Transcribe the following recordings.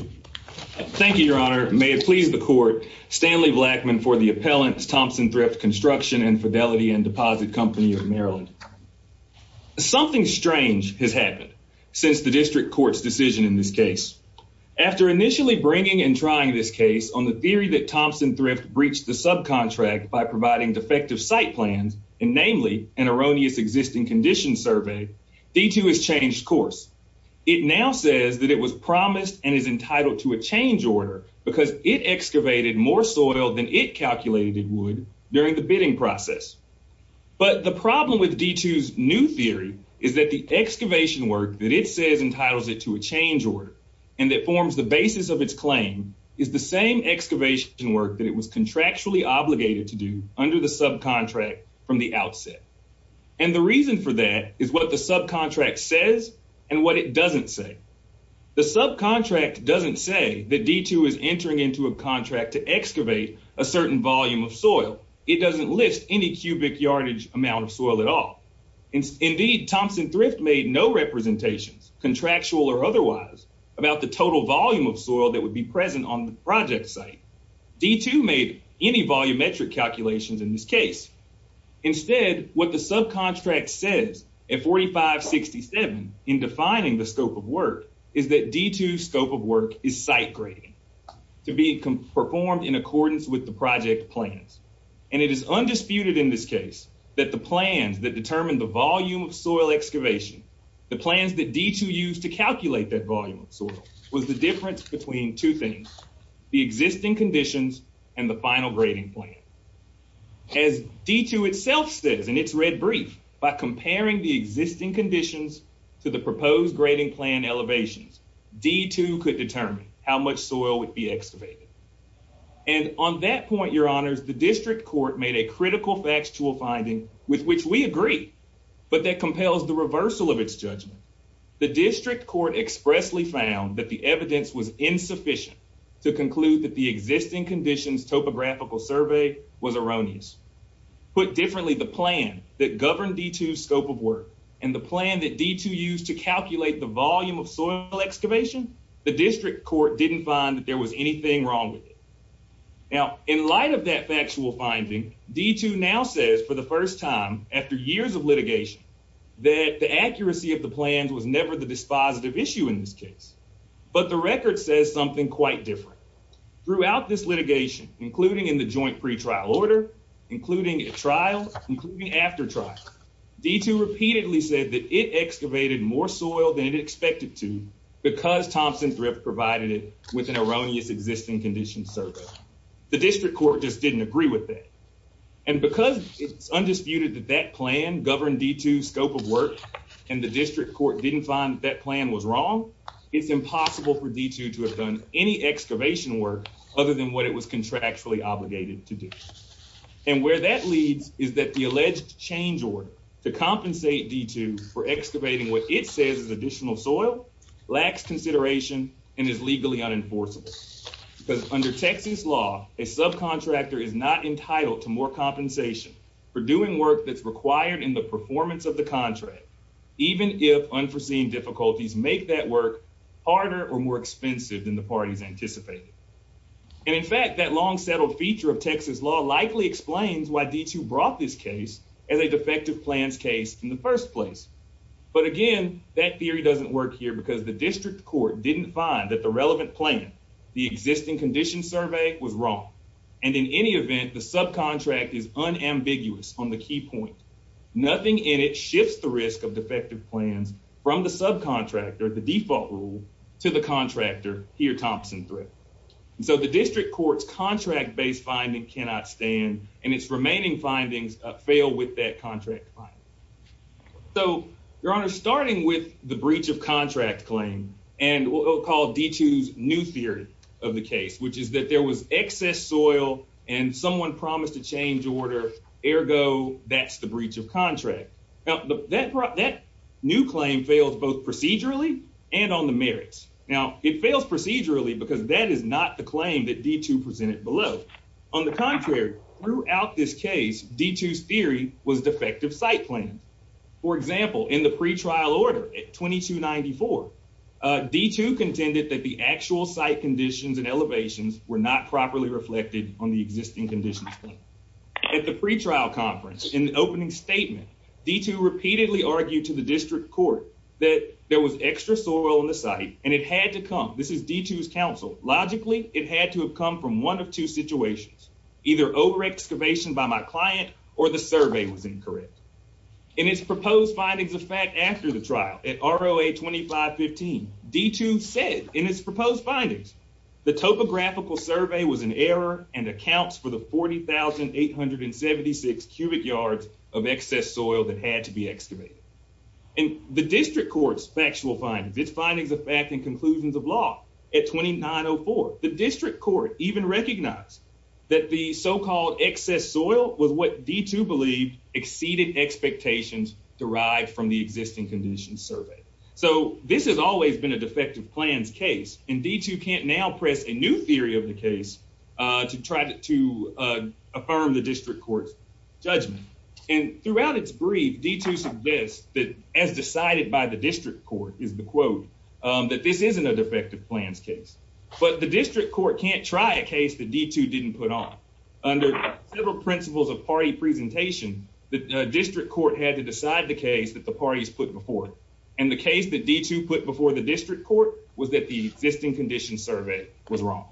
Thank you, Your Honor. May it please the court, Stanley Blackman for the appellant Thompson Thrift Construction and Fidelity and Deposit Company of Maryland. Something strange has happened since the district court's decision in this case. After initially bringing and trying this case on the theory that Thompson Thrift breached the subcontract by providing defective site plans and namely an erroneous existing condition survey, D2 has changed course. It now says that it was promised and is entitled to a change order because it excavated more soil than it calculated it would during the bidding process. But the problem with D2's new theory is that the excavation work that it says entitles it to a change order and that forms the basis of its claim is the same excavation work that it was contractually obligated to do under the subcontract from the outset. And the reason for that is what the subcontract says and what it doesn't say. The subcontract doesn't say that D2 is entering into a contract to excavate a certain volume of soil. It doesn't list any cubic yardage amount of soil at all. Indeed, Thompson Thrift made no representations, contractual or otherwise, about the total volume of soil that would be present on the project site. D2 made any volumetric calculations in this case. Instead, what the subcontract says at 4567 in defining the scope of work is that D2 scope of work is site grading to be performed in accordance with the project plans. And it is undisputed in this case that the plans that determine the volume of soil excavation, the plans that D2 used to calculate that volume of soil was the difference between two plans. As D2 itself says in its red brief, by comparing the existing conditions to the proposed grading plan elevations, D2 could determine how much soil would be excavated. And on that point, your honors, the district court made a critical factual finding with which we agree, but that compels the reversal of its judgment. The district court expressly found that the evidence was insufficient to conclude that the existing conditions, topographical survey was erroneous. Put differently, the plan that governed D2 scope of work and the plan that D2 used to calculate the volume of soil excavation, the district court didn't find that there was anything wrong with it. Now, in light of that factual finding, D2 now says for the first time after years of litigation that the accuracy of the plans was never the dispositive issue in this case. But the record says something quite different. Throughout this litigation, including in the joint pretrial order, including a trial, including after trial, D2 repeatedly said that it excavated more soil than it expected to because Thompson Thrift provided it with an erroneous existing conditions. So the district court just didn't agree with that. And because it's undisputed that that plan governed D2 scope of work and the district court didn't find that plan was wrong, it's impossible for D2 to have done any than what it was contractually obligated to do. And where that leads is that the alleged change order to compensate D2 for excavating what it says is additional soil lacks consideration and is legally unenforceable. Because under Texas law, a subcontractor is not entitled to more compensation for doing work that's required in the performance of the contract, even if unforeseen difficulties make that work harder or more expensive than the parties anticipated. And in fact, that long settled feature of Texas law likely explains why D2 brought this case as a defective plans case in the first place. But again, that theory doesn't work here because the district court didn't find that the relevant plan, the existing condition survey was wrong. And in any event, the subcontract is unambiguous on the key point. Nothing in it shifts the risk of defective plans from the subcontractor, the default rule to the contractor here, Thompson threat. So the district court's contract based finding cannot stand and its remaining findings fail with that contract. So your honor, starting with the breach of contract claim and we'll call D2's new theory of the case, which is that there was excess soil and someone promised to change order. Ergo, that's the breach of contract. Now that that new claim fails both procedurally and on the merits. Now it fails procedurally because that is not the claim that D2 presented below. On the contrary, throughout this case, D2's theory was defective site plans. For example, in the pretrial order at 22 94 D2 contended that the actual site conditions and elevations were not properly reflected on the existing conditions at the pretrial conference. In the opening statement, D2 repeatedly argued to the district court that there was extra soil in the site and it had to come. This is D2's counsel. Logically, it had to have come from one of two situations, either over excavation by my client or the survey was incorrect. In its proposed findings of fact, after the trial at R. O. A. 25 15 D2 said in his proposed findings, the topographical survey was an error and accounts for the 40,876 cubic yards of excess soil that had to be excavated. And the district court's factual findings its findings of fact and conclusions of law at 29 04. The district court even recognized that the so called excess soil was what D to believe exceeded expectations derived from the existing conditions survey. So this has always been a defective plans case. Indeed, you can't now press a new theory of the case to try to affirm the to suggest that as decided by the district court is the quote that this isn't a defective plans case. But the district court can't try a case that D two didn't put on under several principles of party presentation. The district court had to decide the case that the parties put before. And the case that D to put before the district court was that the existing condition survey was wrong.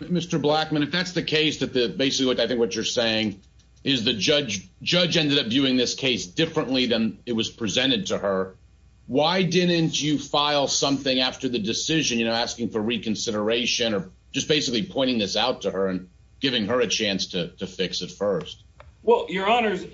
Mr Blackman, if that's the case that the basically what I think what you're saying is the judge judge ended up viewing this case differently than it was presented to her. Why didn't you file something after the decision, you know, asking for reconsideration or just basically pointing this out to her and giving her a chance to fix it first? Well, your honors,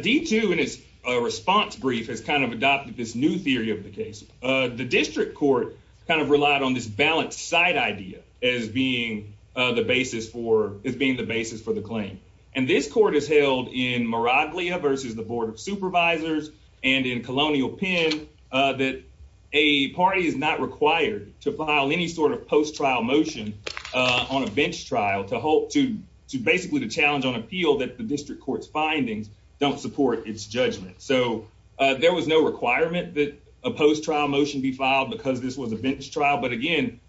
D two in his response brief has kind of adopted this new theory of the case. The district court kind of relied on this balanced side idea as being the basis for being the basis for the claim. And this court is held in Baraglia versus the Board of Supervisors and in Colonial Pen that a party is not required to file any sort of post trial motion on a bench trial to hope to basically the challenge on appeal that the district court's findings don't support its judgment. So there was no requirement that a post trial motion be filed because this was a bench trial. But again,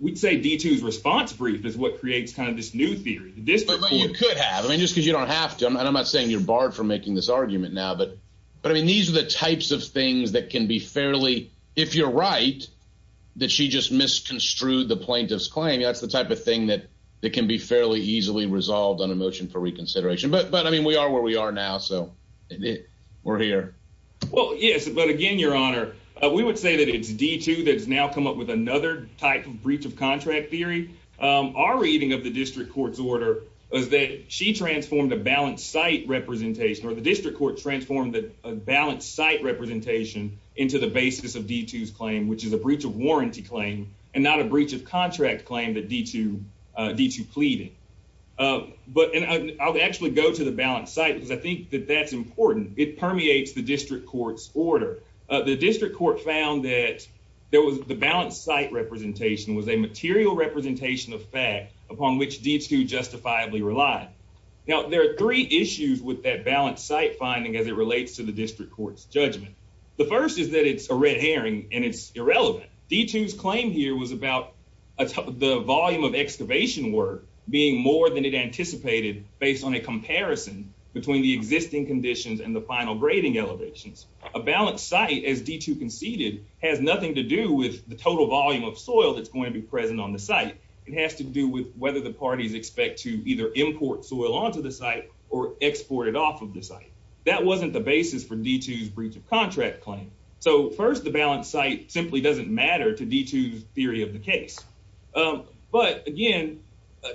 we'd say D two's response brief is what creates kind of this new theory. This could have. I mean, just because you don't have to. I'm not saying you're barred from making this argument now, but but I mean, these are the types of things that can be fairly if you're right, that she just misconstrued the plaintiff's claim. That's the type of thing that that can be fairly easily resolved on a motion for reconsideration. But but I mean, we are where we are now. So we're here. Well, yes, but again, your honor, we would say that it's D two that has now come up with another type of breach of she transformed a balanced site representation or the district court transformed the balanced site representation into the basis of D two's claim, which is a breach of warranty claim and not a breach of contract claim that D two D two pleading. Uh, but I'll actually go to the balanced site because I think that that's important. It permeates the district court's order. The district court found that there was the balanced site representation was a material representation of fact upon which D two justifiably relied. Now there are three issues with that balanced site finding as it relates to the district court's judgment. The first is that it's a red herring and it's irrelevant. D two's claim here was about the volume of excavation work being more than it anticipated based on a comparison between the existing conditions and the final grading elevations. A balanced site as D two conceded has nothing to do with the total volume of soil that's going to be present on the site. It has to do with whether the parties expect to either import soil onto the site or exported off of the site. That wasn't the basis for D two's breach of contract claim. So first, the balance site simply doesn't matter to D two's theory of the case. Um, but again,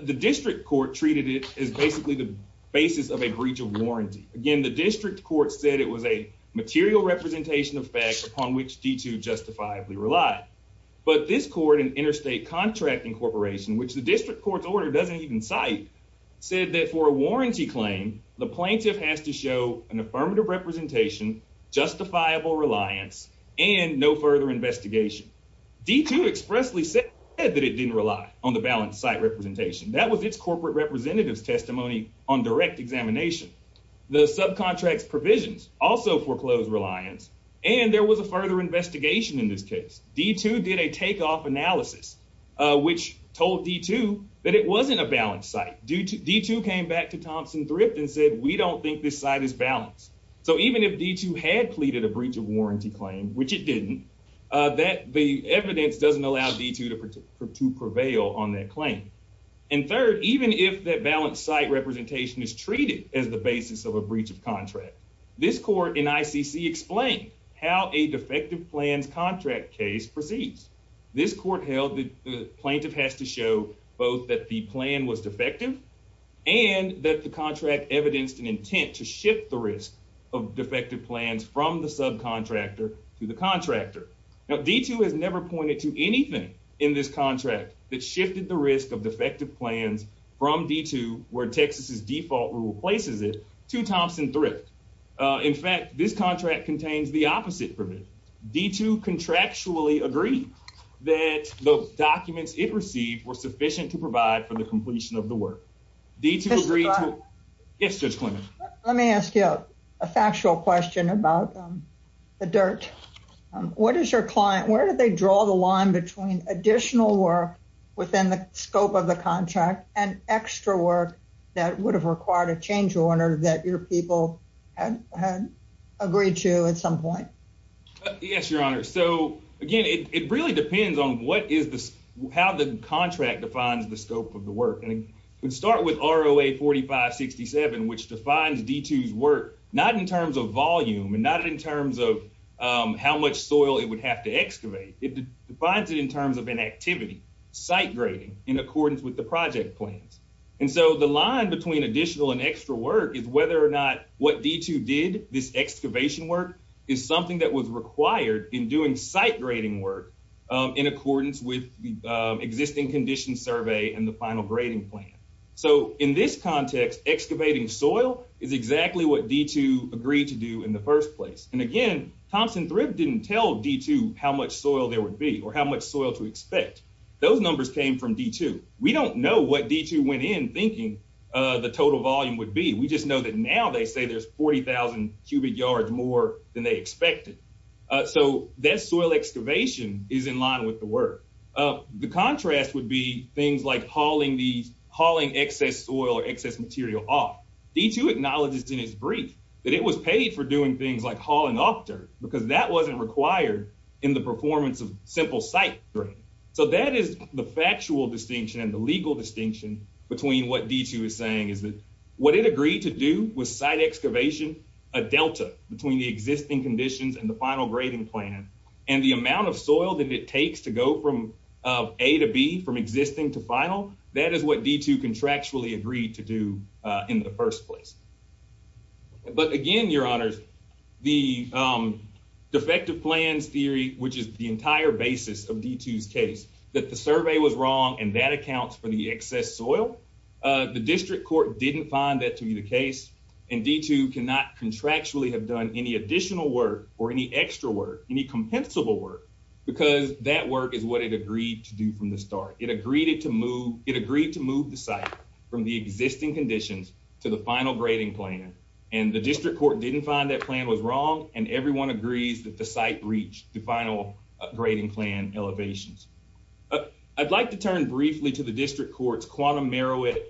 the district court treated it is basically the basis of a breach of warranty. Again, the district court said it was a material representation of fact upon which D two justifiably relied. But this court, an interstate contracting corporation, which the district court's order doesn't even cite, said that for a warranty claim, the plaintiff has to show an affirmative representation, justifiable reliance and no further investigation. D two expressly said that it didn't rely on the balance site representation. That was its corporate representatives testimony on direct examination. The subcontracts provisions also foreclosed reliance. And there was a further investigation. In this case, D two did a take off analysis, which told D two that it wasn't a balance site due to D two came back to Thompson Thrift and said, We don't think this side is balanced. So even if D two had pleaded a breach of warranty claim, which it didn't, uh, that the evidence doesn't allow D two to prevail on that claim. And third, even if that balance site representation is treated as the basis of a breach of contract, this court in I. C. C. Explained how a defective plans contract case proceeds. This court held the plaintiff has to show both that the plan was defective and that the contract evidenced an intent to shift the risk of defective plans from the subcontractor to the contractor. D two has never pointed to anything in this contract that shifted the risk of Thompson Thrift. In fact, this contract contains the opposite for me. D two contractually agree that the documents it received were sufficient to provide for the completion of the work. D two agreed. Yes, Judge Clemens. Let me ask you a factual question about the dirt. What is your client? Where did they draw the line between additional work within the scope of the contract and extra work that would have required a change order that your people had agreed to at some point? Yes, Your Honor. So again, it really depends on what is this, how the contract defines the scope of the work. And it would start with R. O. A. 45 67, which defines D two's work not in terms of volume and not in terms of how much soil it would have to excavate. It defines it terms of an activity site grading in accordance with the project plans. And so the line between additional and extra work is whether or not what D. Two did. This excavation work is something that was required in doing site grading work in accordance with existing conditions survey and the final grading plan. So in this context, excavating soil is exactly what D two agreed to do in the first place. And again, Thompson Thrift didn't tell D well, there would be or how much soil to expect. Those numbers came from D. Two. We don't know what D. Two went in thinking the total volume would be. We just know that now they say there's 40,000 cubic yards more than they expected. Eso that soil excavation is in line with the work. The contrast would be things like hauling these hauling excess soil or excess material off. D two acknowledges in his brief that it was paid for doing things like performance of simple site. So that is the factual distinction and the legal distinction between what D two is saying is that what it agreed to do with site excavation, a delta between the existing conditions and the final grading plan and the amount of soil that it takes to go from A to B from existing to final. That is what D two contractually agreed to do in the first place. But again, your honors, the, um, defective plans theory, which is the entire basis of D two's case that the survey was wrong and that accounts for the excess soil. Uh, the district court didn't find that to be the case, and D two cannot contractually have done any additional work or any extra work, any compensable work because that work is what it agreed to do from the start. It agreed it to move. It agreed to move the site from the existing conditions to the final grading plan, and the district court didn't find that plan was wrong, and everyone agrees that the site reached the final grading plan elevations. But I'd like to turn briefly to the district court's quantum Meroweth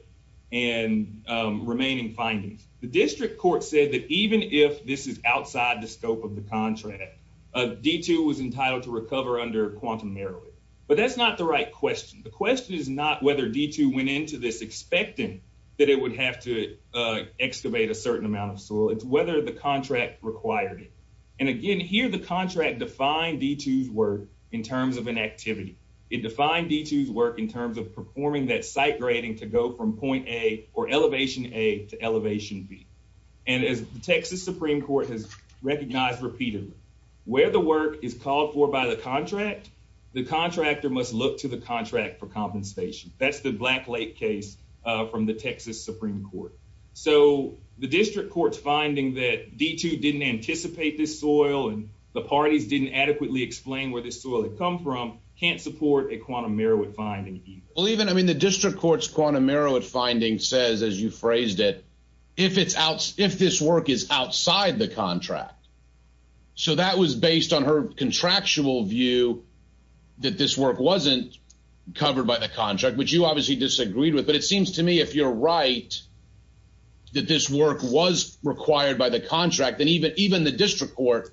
and remaining findings. The district court said that even if this is outside the scope of the contract, D two was entitled to recover under quantum Meroweth. But that's not the right question. The question is not whether D two went into this expecting that it would have to excavate a certain amount of soil. It's whether the contract required it. And again, here, the contract defined D two's work in terms of an activity. It defined D two's work in terms of performing that site grading to go from point A or elevation A to elevation B. And as Texas Supreme Court has recognized repeatedly where the work is called for by the contract, the contractor must look to the contract for compensation. That's the Black Lake case from the Texas Supreme Court. So the district court's finding that D two didn't anticipate this soil and the parties didn't adequately explain where this soil had come from can't support a quantum Meroweth finding. Believe it. I mean, the district court's quantum Meroweth finding says, as you phrased it, if it's out, if this work is outside the contract, so that was based on her contractual view that this work wasn't covered by the contract, which you obviously disagreed with. But it seems to me if you're right that this work was required by the contract, and even even the district court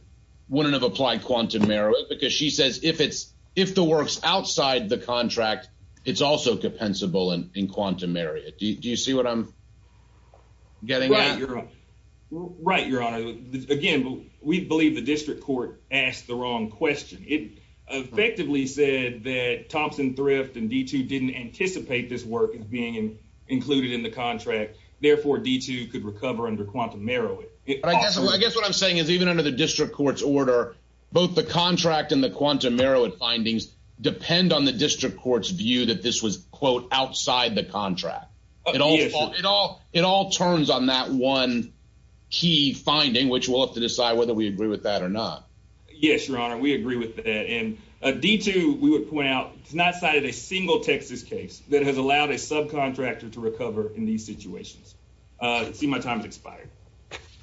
wouldn't have applied quantum Meroweth because, she says, if it's if the works outside the contract, it's also compensable and in quantum Merriott. Do you see what I'm getting? Right, Your Honor. Again, we believe the district court asked the wrong question. It effectively said that Thompson Thrift and D two didn't anticipate this work is being included in the contract. Therefore, D two could recover under quantum Meroweth. I guess what I'm saying is even under the district court's order, both the contract and the quantum Meroweth findings depend on the district court's view that this was quote outside the on that one key finding, which will have to decide whether we agree with that or not. Yes, Your Honor. We agree with that. And D two we would point out. It's not cited a single Texas case that has allowed a subcontractor to recover in these situations. Uh, see my time's expired.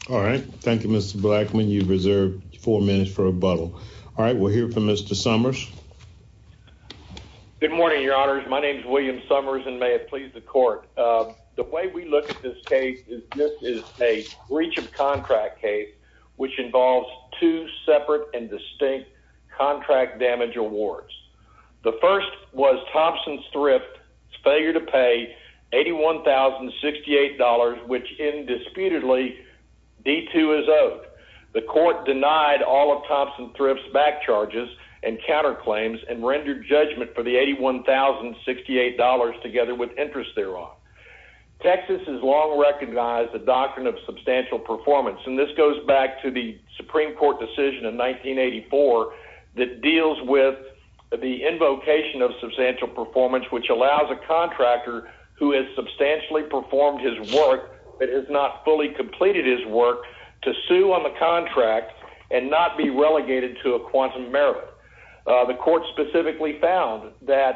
All right. Thank you, Mr Blackman. You reserved four minutes for a bottle. All right, we're here for Mr Summers. Good morning, Your Honor. My name is William Summers and may it please the case is just is a breach of contract case, which involves two separate and distinct contract damage awards. The first was Thompson's thrift failure to pay $81,068, which indisputably D two is out. The court denied all of Thompson Thrift's back charges and counterclaims and rendered judgment for the $81,068 together with interest. They're off. Texas is long recognized the doctrine of substantial performance, and this goes back to the Supreme Court decision in 1984 that deals with the invocation of substantial performance, which allows a contractor who is substantially performed his work. It is not fully completed his work to sue on the contract and not be that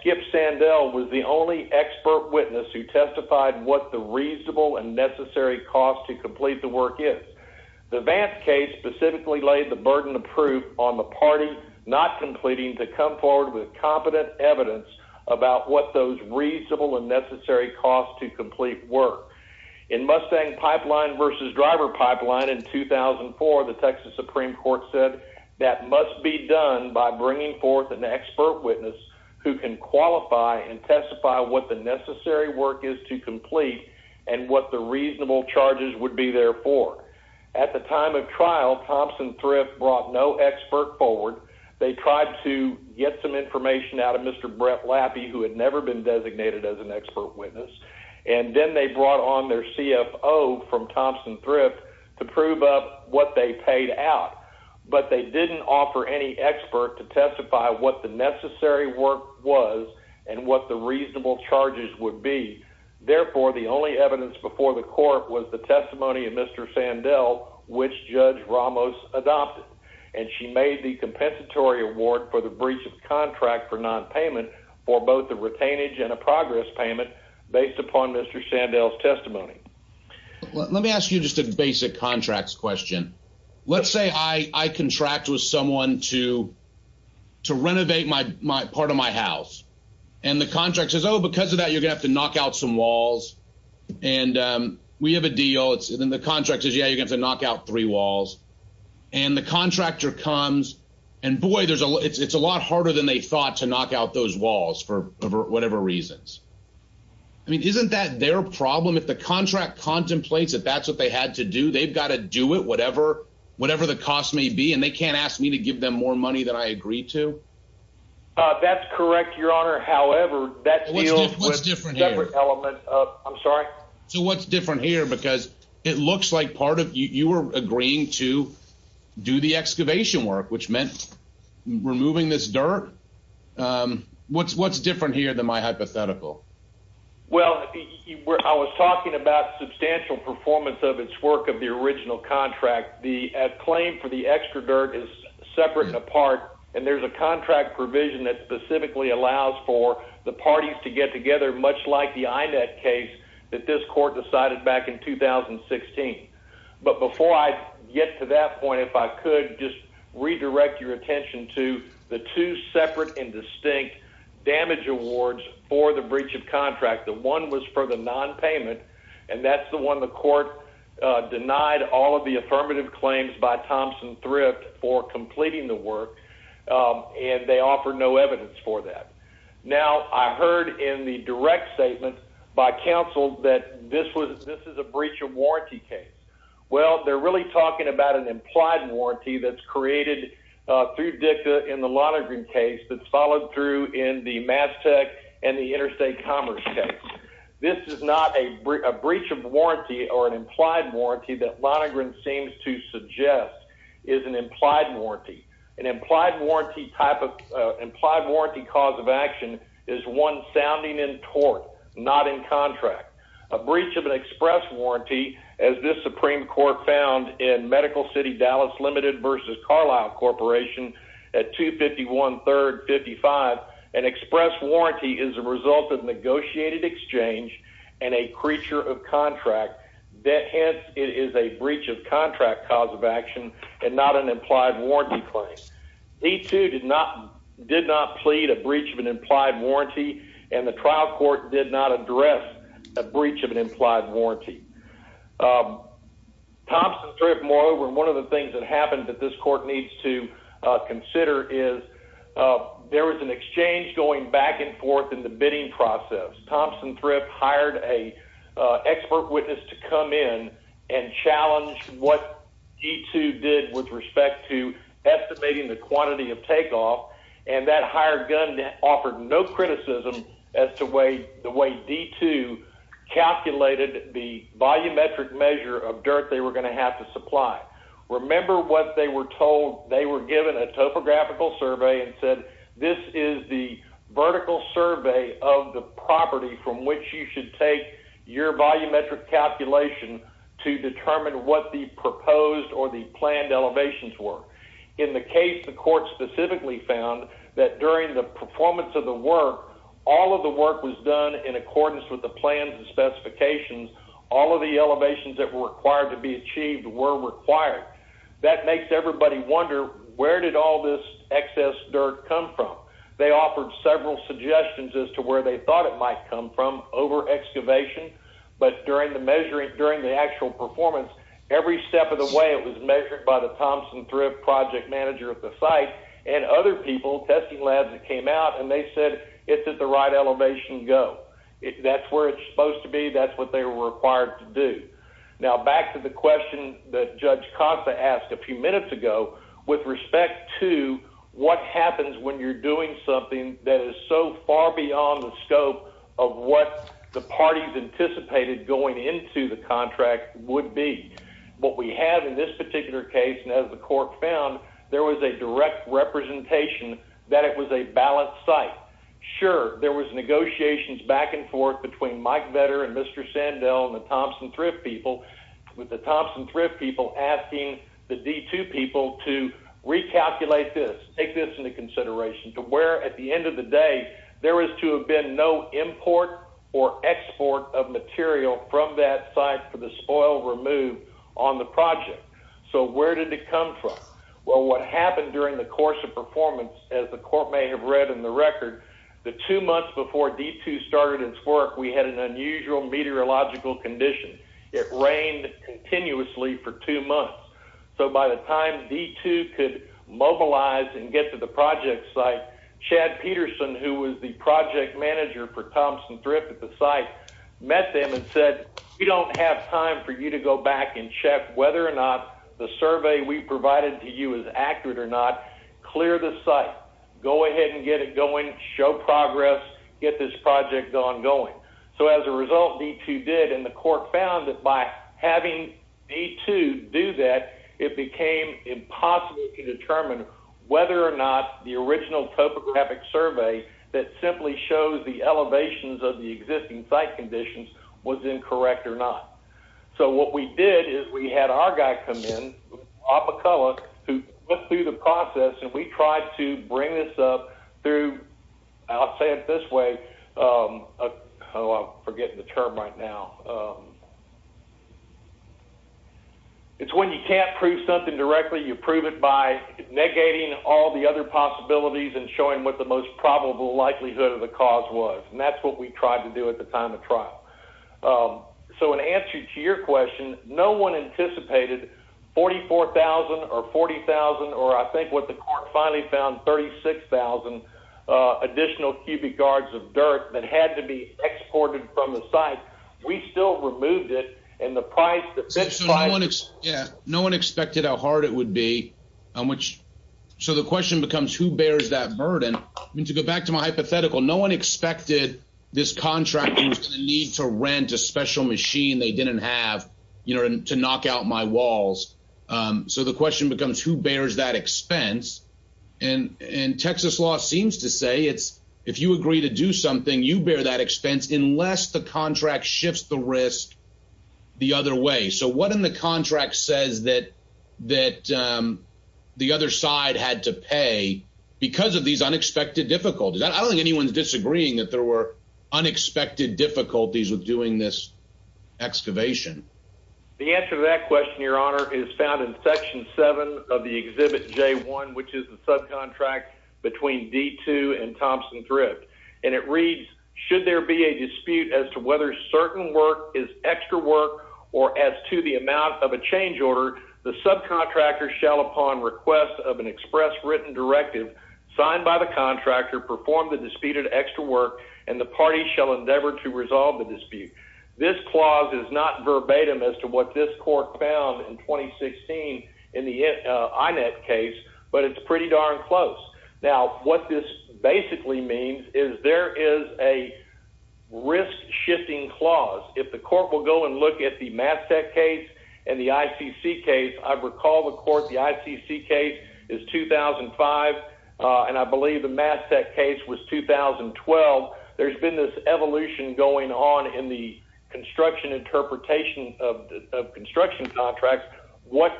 Skip Sandell was the only expert witness who testified what the reasonable and necessary cost to complete the work is. The Vance case specifically laid the burden of proof on the party not completing to come forward with competent evidence about what those reasonable and necessary cost to complete work in Mustang Pipeline versus driver pipeline. In 2004, the Texas Supreme Court said that must be done by bringing forth an expert witness who can qualify and testify what the necessary work is to complete and what the reasonable charges would be. Therefore, at the time of trial, Thompson Thrift brought no expert forward. They tried to get some information out of Mr. Brett Laffey, who had never been designated as an expert witness, and then they brought on their CFO from Thompson Thrift to prove up what they paid out. But they didn't offer any expert to necessary work was and what the reasonable charges would be. Therefore, the only evidence before the court was the testimony of Mr Sandell, which Judge Ramos adopted, and she made the compensatory award for the breach of contract for non payment for both the retainage and a progress payment based upon Mr Sandell's testimony. Let me ask you just a basic contracts question. Let's say I contract with someone to to renovate my part of my house, and the contract says, Oh, because of that, you're gonna have to knock out some walls, and we have a deal. It's in the contract is, Yeah, you're gonna knock out three walls, and the contractor comes and boy, there's a It's a lot harder than they thought to knock out those walls for whatever reasons. I mean, isn't that their problem? If the contract contemplates that that's what they had to do, they've got to do it, whatever, whatever the cost may be, and they can't ask me to give them more money than I agreed to. That's correct, Your Honor. However, that's what's different. I'm sorry. So what's different here? Because it looks like part of you were agreeing to do the excavation work, which meant removing this dirt. Um, what's what's different here than my hypothetical? Well, I was talking about substantial performance of its work of the original contract. The claim for the extra dirt is separate and apart, and there's a contract provision that specifically allows for the parties to get together, much like the I net case that this court decided back in 2000 and 16. But before I get to that point, if I could just redirect your attention to the two separate and distinct damage awards for the breach of contract, the one was for the non payment, and that's the one. The court denied all of the affirmative claims by Thompson Thrift for completing the work, and they offer no evidence for that. Now, I heard in the direct statement by counsel that this was this is a breach of warranty case. Well, they're really talking about an implied warranty that's created through dicta in the Lonergan case that followed through in the Mass Tech and the Interstate Commerce case. This is not a breach of warranty or an implied warranty that Lonergan seems to suggest is an implied warranty. An implied warranty type of implied warranty cause of action is one sounding in tort, not in contract. A breach of an express warranty, as this Supreme Court found in Medical City Dallas Limited versus Carlisle Corporation at 2 51 3rd 55. An express warranty is a result of negotiated exchange and a creature of contract that hence it is a breach of contract cause of action and not an implied warranty claims. He too did not did not plead a breach of an implied warranty, and the trial court did not address a breach of an implied warranty. Um, Thompson Thrift. Moreover, one of the things that happened that this court needs to consider is, uh, there was an exchange going back and forth in the bidding process. Thompson Thrift hired a expert witness to come in and challenged what he too did with respect to estimating the quantity of take off. And that hired gun offered no criticism as to way the way D two calculated the volumetric measure of dirt they were going to have to supply. Remember what they were told? They were given a topographical survey and said this is the vertical survey of the property from which you should take your volumetric calculation to determine what the proposed or the planned elevations were. In the case, the court specifically found that during the performance of the work, all of the work was done in accordance with the plans and specifications. All of the elevations that were required to be required. That makes everybody wonder. Where did all this excess dirt come from? They offered several suggestions as to where they thought it might come from over excavation. But during the measuring during the actual performance, every step of the way it was measured by the Thompson Thrift project manager of the site and other people testing labs that came out, and they said it's at the right elevation. Go. That's where it's supposed to be. That's what they were required to do. Now, back to the question that Judge Casa asked a few minutes ago with respect to what happens when you're doing something that is so far beyond the scope of what the parties anticipated going into the contract would be. What we have in this particular case, and as the court found there was a direct representation that it was a balanced site. Sure, there was negotiations back and forth between Mike Vetter and Mr Sandell and the Thompson Thrift people with the Thompson Thrift asking the D2 people to recalculate this, take this into consideration, to where at the end of the day there is to have been no import or export of material from that site for the spoil removed on the project. So where did it come from? Well, what happened during the course of performance, as the court may have read in the record, the two months before D2 started its work, we had an unusual meteorological condition. It rained continuously for two months. So by the time D2 could mobilize and get to the project site, Chad Peterson, who was the project manager for Thompson Thrift at the site, met them and said, we don't have time for you to go back and check whether or not the survey we provided to you is accurate or not. Clear the site. Go ahead and get it going. Show progress. Get this project ongoing. So as a result, D2 did, and the court found that by having D2 do that, it became impossible to determine whether or not the original topographic survey that simply shows the elevations of the existing site conditions was incorrect or not. So what we did is we had our guy come in, Apicola, who went through the term right now. It's when you can't prove something directly, you prove it by negating all the other possibilities and showing what the most probable likelihood of the cause was. And that's what we tried to do at the time of trial. So in answer to your question, no one anticipated 44,000 or 40,000 or I think what the court finally found, 36,000 additional cubic yards of dirt that had to be exported from the site. We still removed it, and the price, that's fine. Yeah, no one expected how hard it would be on which. So the question becomes who bears that burden? I mean, to go back to my hypothetical, no one expected this contract. You need to rent a special machine they didn't have, you know, to knock out my walls. Eso the question becomes who bears that expense? And and Texas law seems to say it's if you agree to do something, you bear that expense in less. The contract shifts the risk the other way. So what in the contract says that that, um, the other side had to pay because of these unexpected difficulties that I don't think anyone's disagreeing that there were unexpected difficulties with doing this excavation. The answer to that question, Your Honor, is found in Section seven of the exhibit J one, which is the subcontract between D two and Thompson thrift. And it reads, Should there be a dispute as to whether certain work is extra work or as to the amount of a change order, the subcontractor shall, upon request of an express written directive signed by the contractor, performed the disputed extra work, and the party shall endeavor to resolve the dispute. This clause is not verbatim as to what this court found in 2016 in the eye net case, but it's pretty darn close. Now, what this basically means is there is a risk shifting clause. If the court will go and look at the mass tech case and the I C C case, I recall the court. The I C C case is 2000 and five on. I believe the mass tech case was 2000 and 12. There's been this evolution going on in the construction interpretation of construction contracts. What?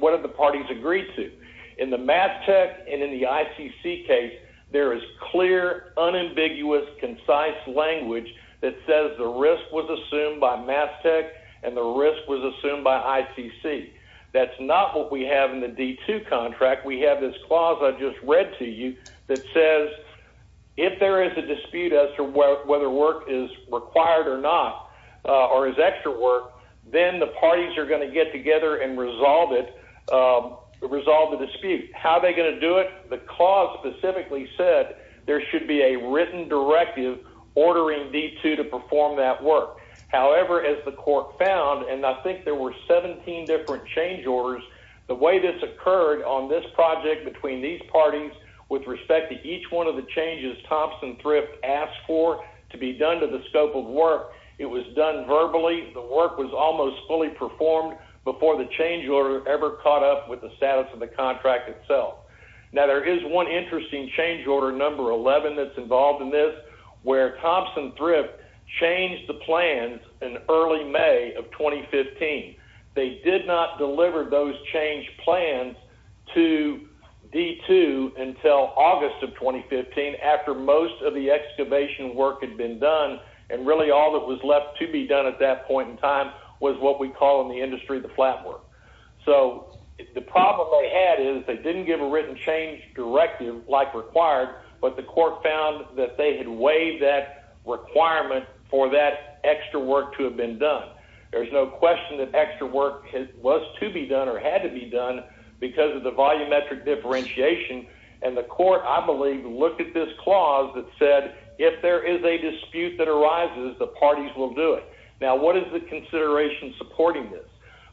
What are the parties agreed to in the mass tech? And in the I C C case, there is clear, unambiguous, concise language that says the risk was assumed by mass tech, and the risk was assumed by I C C. That's not what we have in the D two contract. We have this clause. I just read to you that says if there is a dispute as to whether work is required or not, or is extra work, then the parties are going to get together and resolve it. Um, resolve the dispute. How are they going to do it? The cause specifically said there should be a written directive ordering D two to perform that work. However, as the court found, and I think there were 17 different change orders the way this occurred on this project between these parties with respect to each one of the changes Thompson thrift asked for to be done to the scope of work. It was done verbally. The work was almost fully performed before the change order ever caught up with the status of the contract itself. Now there is one interesting change order number 11 that's involved in this, where Thompson thrift changed the plans in early May of 2015. They did not deliver those change plans to D two until August of 2015. After most of the excavation work had been done, and really all that was left to be done at that point in time was what we call in the industry the flat work. So the problem they had is they didn't give a written change directive like required, but the court found that they had waived that requirement for that extra work to have been done. There's no question that extra work was to be done or had to be done because of the volumetric differentiation. And the court, I believe, looked at this clause that said if there is a dispute that arises, the parties will do it. Now, what is the consideration supporting this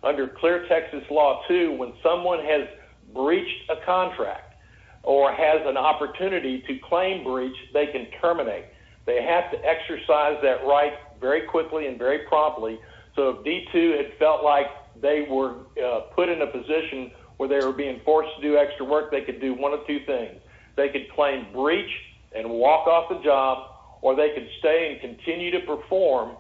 under clear Texas law to when someone has breached a contract or has an opportunity to claim breach, they can terminate. They have to exercise that right very quickly and very promptly. So if D two it felt like they were put in a position where they were being forced to do extra work, they could do one of two things. They could claim breach and walk off the job or they could stay and continue to perform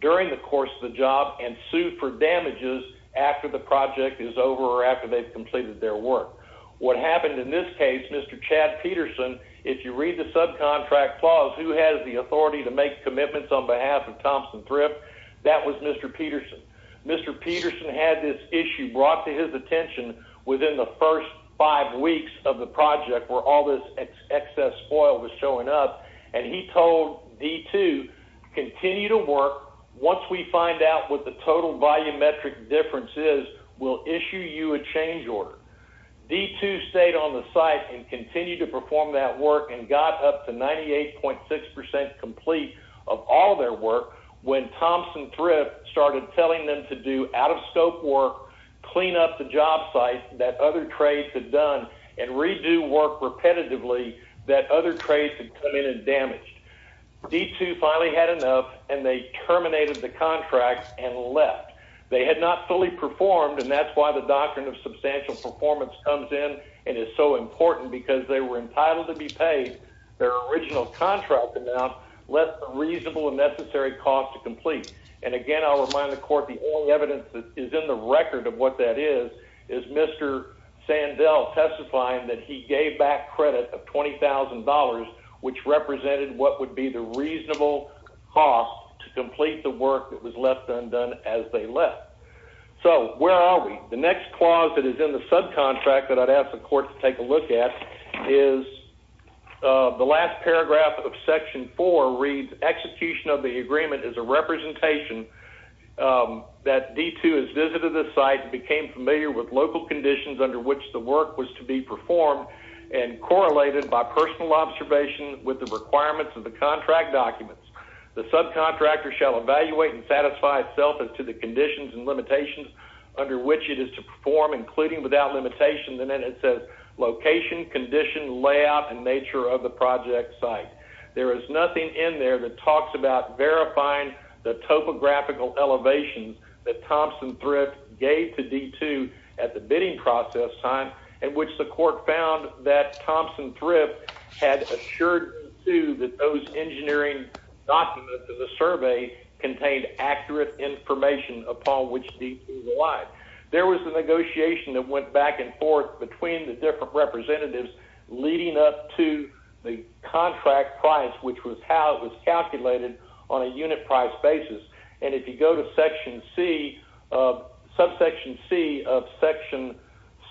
during the course of the job and sue for damages after the project is over or after they've completed their work. What happened in this case, Mr. Chad Peterson, if you read the subcontract clause, who has the thrift, that was Mr. Peterson. Mr. Peterson had this issue brought to his attention within the first five weeks of the project where all this excess oil was showing up, and he told the two continue to work once we find out what the total volumetric differences will issue you a change order. D two stayed on the site and continue to perform that work and got up to 98.6% complete of all their work. When Thompson thrift started telling them to do out of scope work, clean up the job site that other trades had done and redo work repetitively that other trades had come in and damaged. D two finally had enough, and they terminated the contract and left. They had not fully performed, and that's why the doctrine of substantial performance comes in and it's so important because they were entitled to be paid their original contract. Enough left reasonable and necessary cost to complete. And again, I'll remind the court. The only evidence that is in the record of what that is is Mr Sandell testifying that he gave back credit of $20,000, which represented what would be the reasonable cost to complete the work that was left undone as they left. So where are we? The next clause that is in the subcontract that I'd ask the court to take a look at is, uh, the last paragraph of Section four reads execution of the agreement is a representation. Um, that D two is visited the site became familiar with local conditions under which the work was to be performed and correlated by personal observation with the requirements of the contract documents. The subcontractor shall evaluate and satisfy itself as to the conditions and limitations under which it is to perform, including without limitation than it's a location, condition, layout and nature of the project site. There is nothing in there that talks about verifying the topographical elevations that Thompson thrift gave to D two at the bidding process time in which the court found that Thompson thrift had assured to that those engineering documents of the survey contained accurate information upon which deep why there was a negotiation that went back and forth between the different representatives leading up to the contract price, which was how it was calculated on a unit price basis. And if you go to Section C of subsection C of Section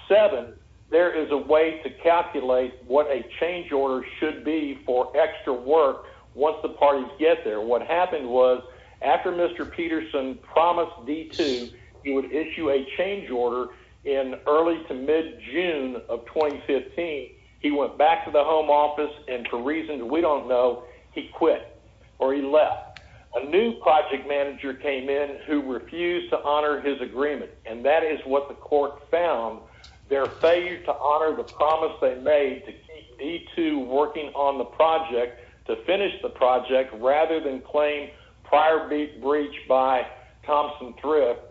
seven, there is a way to calculate what a change order should be for extra work. Once the parties get there, what happened was after Mr Peterson promised D two, he would issue a change order in early to mid June of 2015. He went back to the home office and for reasons we don't know, he quit or he left. A new project manager came in who refused to honor his agreement, and that is what the court found their failure to honor the promise they made to keep D two working on the project to finish the project rather than claim prior beat breach by Thompson thrift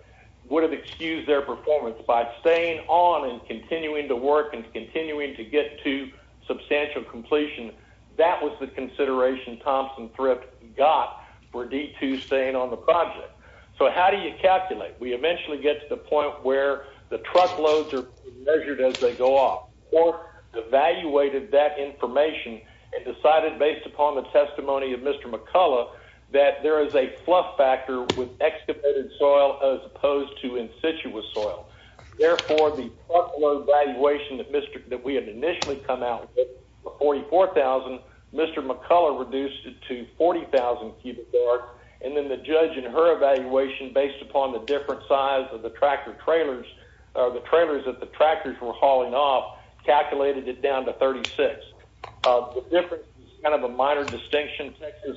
would have excused their performance by staying on and continuing to work and continuing to get to substantial completion. That was the consideration Thompson thrift got for D two staying on the project. So how do you calculate? We eventually get to the point where the truck loads are measured as they go off or evaluated that information and decided, based upon the testimony of Mr McCullough, that there is a fluff factor with excavated soil as opposed to in situ with soil. Therefore, the workload valuation that Mr that we had initially come out with 44,000 Mr McCullough reduced it to 40,000 cubic yards. And then the judge in her evaluation, based upon the different size of the tractor trailers, the trailers that the tractors were hauling off, calculated it down to 36. Uh, different kind of a minor distinction. Texas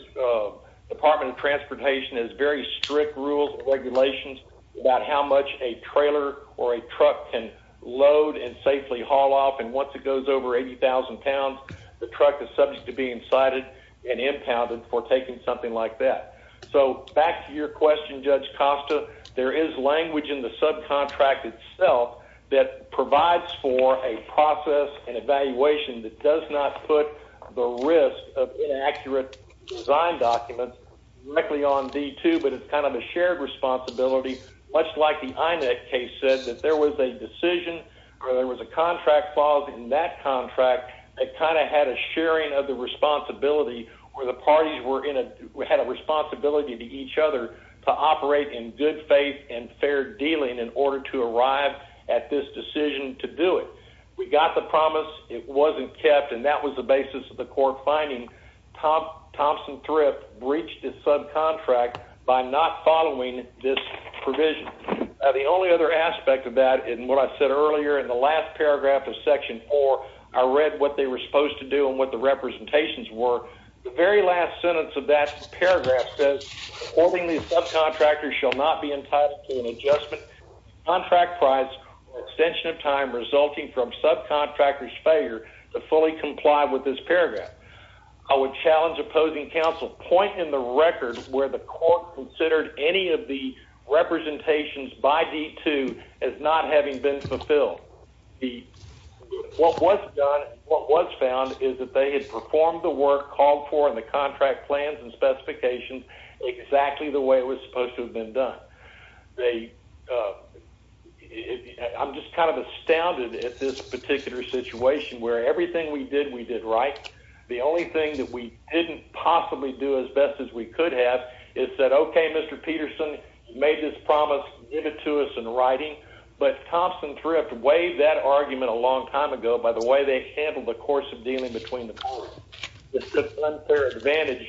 Department of Transportation is very strict rules and regulations about how much a trailer or a truck can load and safely haul off. And once it goes over 80,000 pounds, the truck is subject to be incited and impounded for taking something like that. So back to your question, Judge Costa, there is language in the subcontract itself that provides for a process and evaluation that does not put the risk of inaccurate design documents directly on the two. But it's kind of a shared responsibility, much like the I net case said that there was a decision or there was a contract clause in that contract that kind of had a sharing of the responsibility where the parties were in a had a responsibility to each other to operate in good faith and fair dealing in order to arrive at this decision to do it. We got the promise. It wasn't kept. And that was the basis of the court finding. Tom Thompson Thrift breached his subcontract by not following this provision. The only other aspect of that and what I said earlier in the last paragraph of Section four, I read what they were supposed to do and what the representations were. The very last sentence of that paragraph says, holding these subcontractors shall not be entitled to an adjustment contract price extension of time, resulting from subcontractors failure to fully comply with this paragraph. I would challenge opposing counsel point in the record where the court considered any of the representations by D two is not having been fulfilled. The what was done, what was found is that they had performed the work called for in the contract plans and specifications exactly the way it was supposed to have done. They, uh, I'm just kind of astounded at this particular situation where everything we did, we did right. The only thing that we didn't possibly do as best as we could have. It said, Okay, Mr Peterson made this promise, give it to us in writing. But Thompson Thrift waved that argument a long time ago by the way they handled the course of dealing between the court. It's uh, it took unfair advantage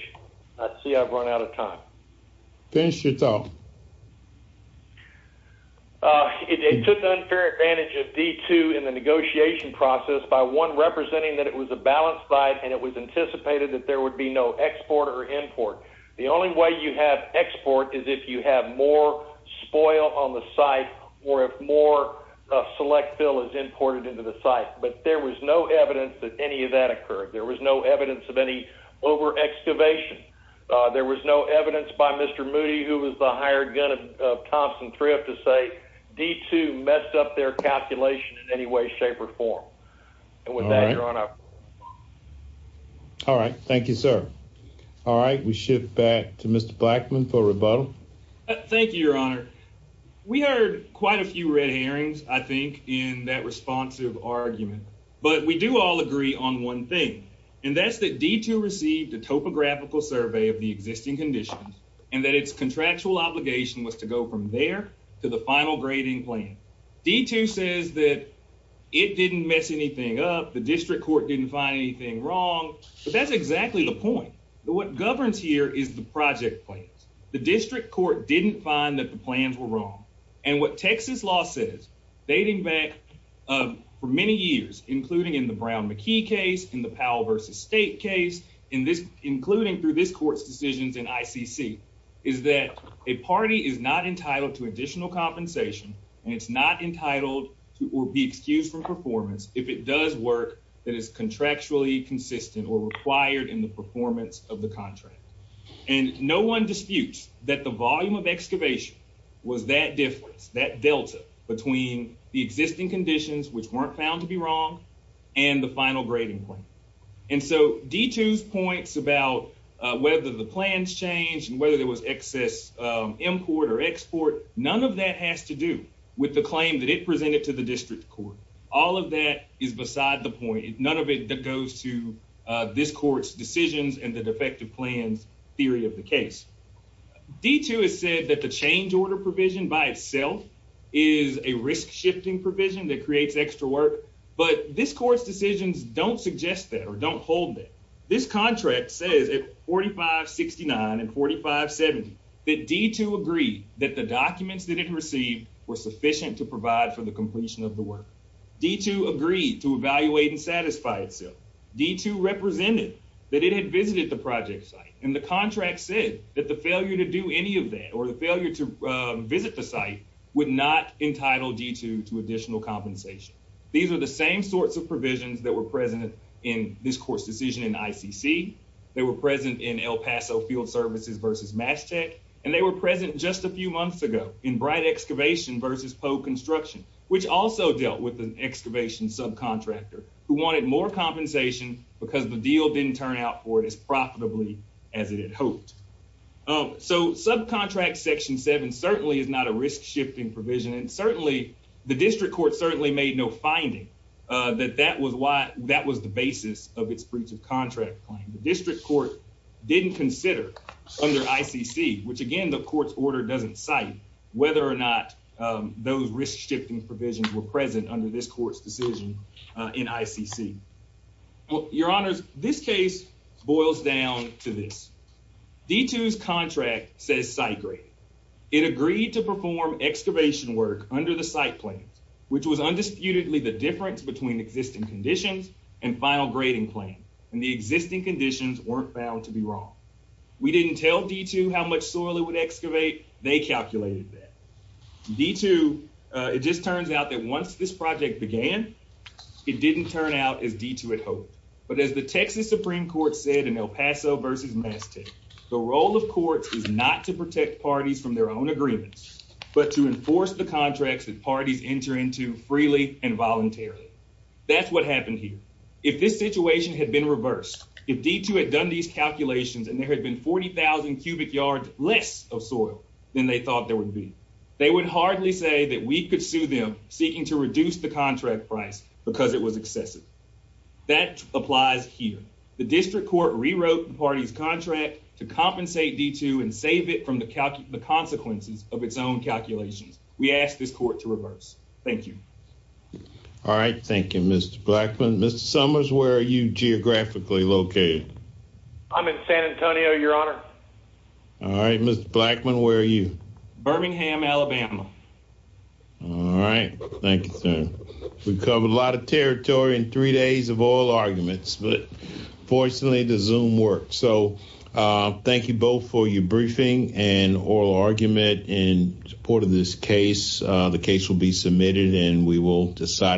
of D two in the negotiation process by one representing that it was a balanced side and it was anticipated that there would be no export or import. The only way you have export is if you have more spoil on the site or if more select bill is imported into the site. But there was no evidence that any of that occurred. There was no evidence of any over excavation. There was no evidence by Mr Moody, who was the hired gun of Thompson Thrift to say D to mess up their calculation in any way, shape or form. And with that, you're on up. All right. Thank you, sir. All right. We shift back to Mr Blackman for rebuttal. Thank you, Your Honor. We heard quite a few red herrings, I think, in that responsive argument. But we do all agree on one thing, and that's that D two received a topographical survey of the existing conditions and that its contractual obligation was to go from there to the final grading plan. D two says that it didn't mess anything up. The district court didn't find anything wrong. But that's exactly the point. What governs here is the project plans. The district court didn't find that the plans were wrong. And what Texas law says, dating back for many years, including in the Brown McKee case in the power versus state case in this, including through this court's decisions in I C C is that a party is not entitled to additional compensation, and it's not entitled to or be excused from performance if it does work that is contractually consistent or required in the performance of the contract. And no one disputes that the volume of excavation was that difference that delta between the existing conditions which weren't found to be wrong and the final grading point. And so D choose points about whether the plans change and whether there was excess import or export. None of that has to do with the claim that it presented to the district court. All of that is beside the point. None of it that goes to this court's decisions and the defective plans theory of the case. D two has said that the change order provision by itself is a risk shifting provision that creates extra work. But this court's decisions don't suggest that or don't hold that this contract says it 45 69 and 45 70 that D to agree that the documents that it received were sufficient to provide for the completion of the work. D two agreed to evaluate and satisfy itself. D two represented that it had visited the project site, and the contract said that the failure to do any of that or the failure to visit the site would not entitled D two to additional compensation. These are the same sorts of provisions that were present in this court's decision in I. C. C. They were present in El Paso Field Services versus Mass Tech, and they were present just a few months ago in bright excavation versus Poe Construction, which also dealt with an excavation subcontractor who wanted more compensation because the deal didn't turn out for it as profitably as it had hoped. So subcontract section seven certainly is not a risk shifting provision, and certainly the district court certainly made no finding that that was why that was the basis of its breach of contract claim. The district court didn't consider under I. C. C. Which again, the court's order doesn't cite whether or not those risk shifting provisions were present under this court's decision in I. C. C. Your honors, this case boils down to this. D two's contract says site grade. It which was undisputedly the difference between existing conditions and final grading claim, and the existing conditions weren't found to be wrong. We didn't tell D two how much soil it would excavate. They calculated that D two. It just turns out that once this project began, it didn't turn out is D two at home. But as the Texas Supreme Court said in El Paso versus Mass Tech, the role of courts is not to protect parties from their own agreements, but to enforce the contracts that parties enter into freely and voluntarily. That's what happened here. If this situation had been reversed, if D two had done these calculations and there had been 40,000 cubic yards less of soil than they thought there would be, they would hardly say that we could sue them seeking to reduce the contract price because it was excessive. That applies here. The district court rewrote the party's contract to compensate D two and save it from the calc the consequences of its own calculations. We asked this court to reverse. Thank you. All right. Thank you, Mr Blackman. Mr Summers, where are you geographically located? I'm in San Antonio, Your Honor. All right, Mr Blackman, where are you? Birmingham, Alabama. All right. Thank you, sir. We covered a lot of territory in three days of oil arguments, but fortunately, the zoom works. So, uh, thank you both for your port of this case. The case will be submitted and we will decide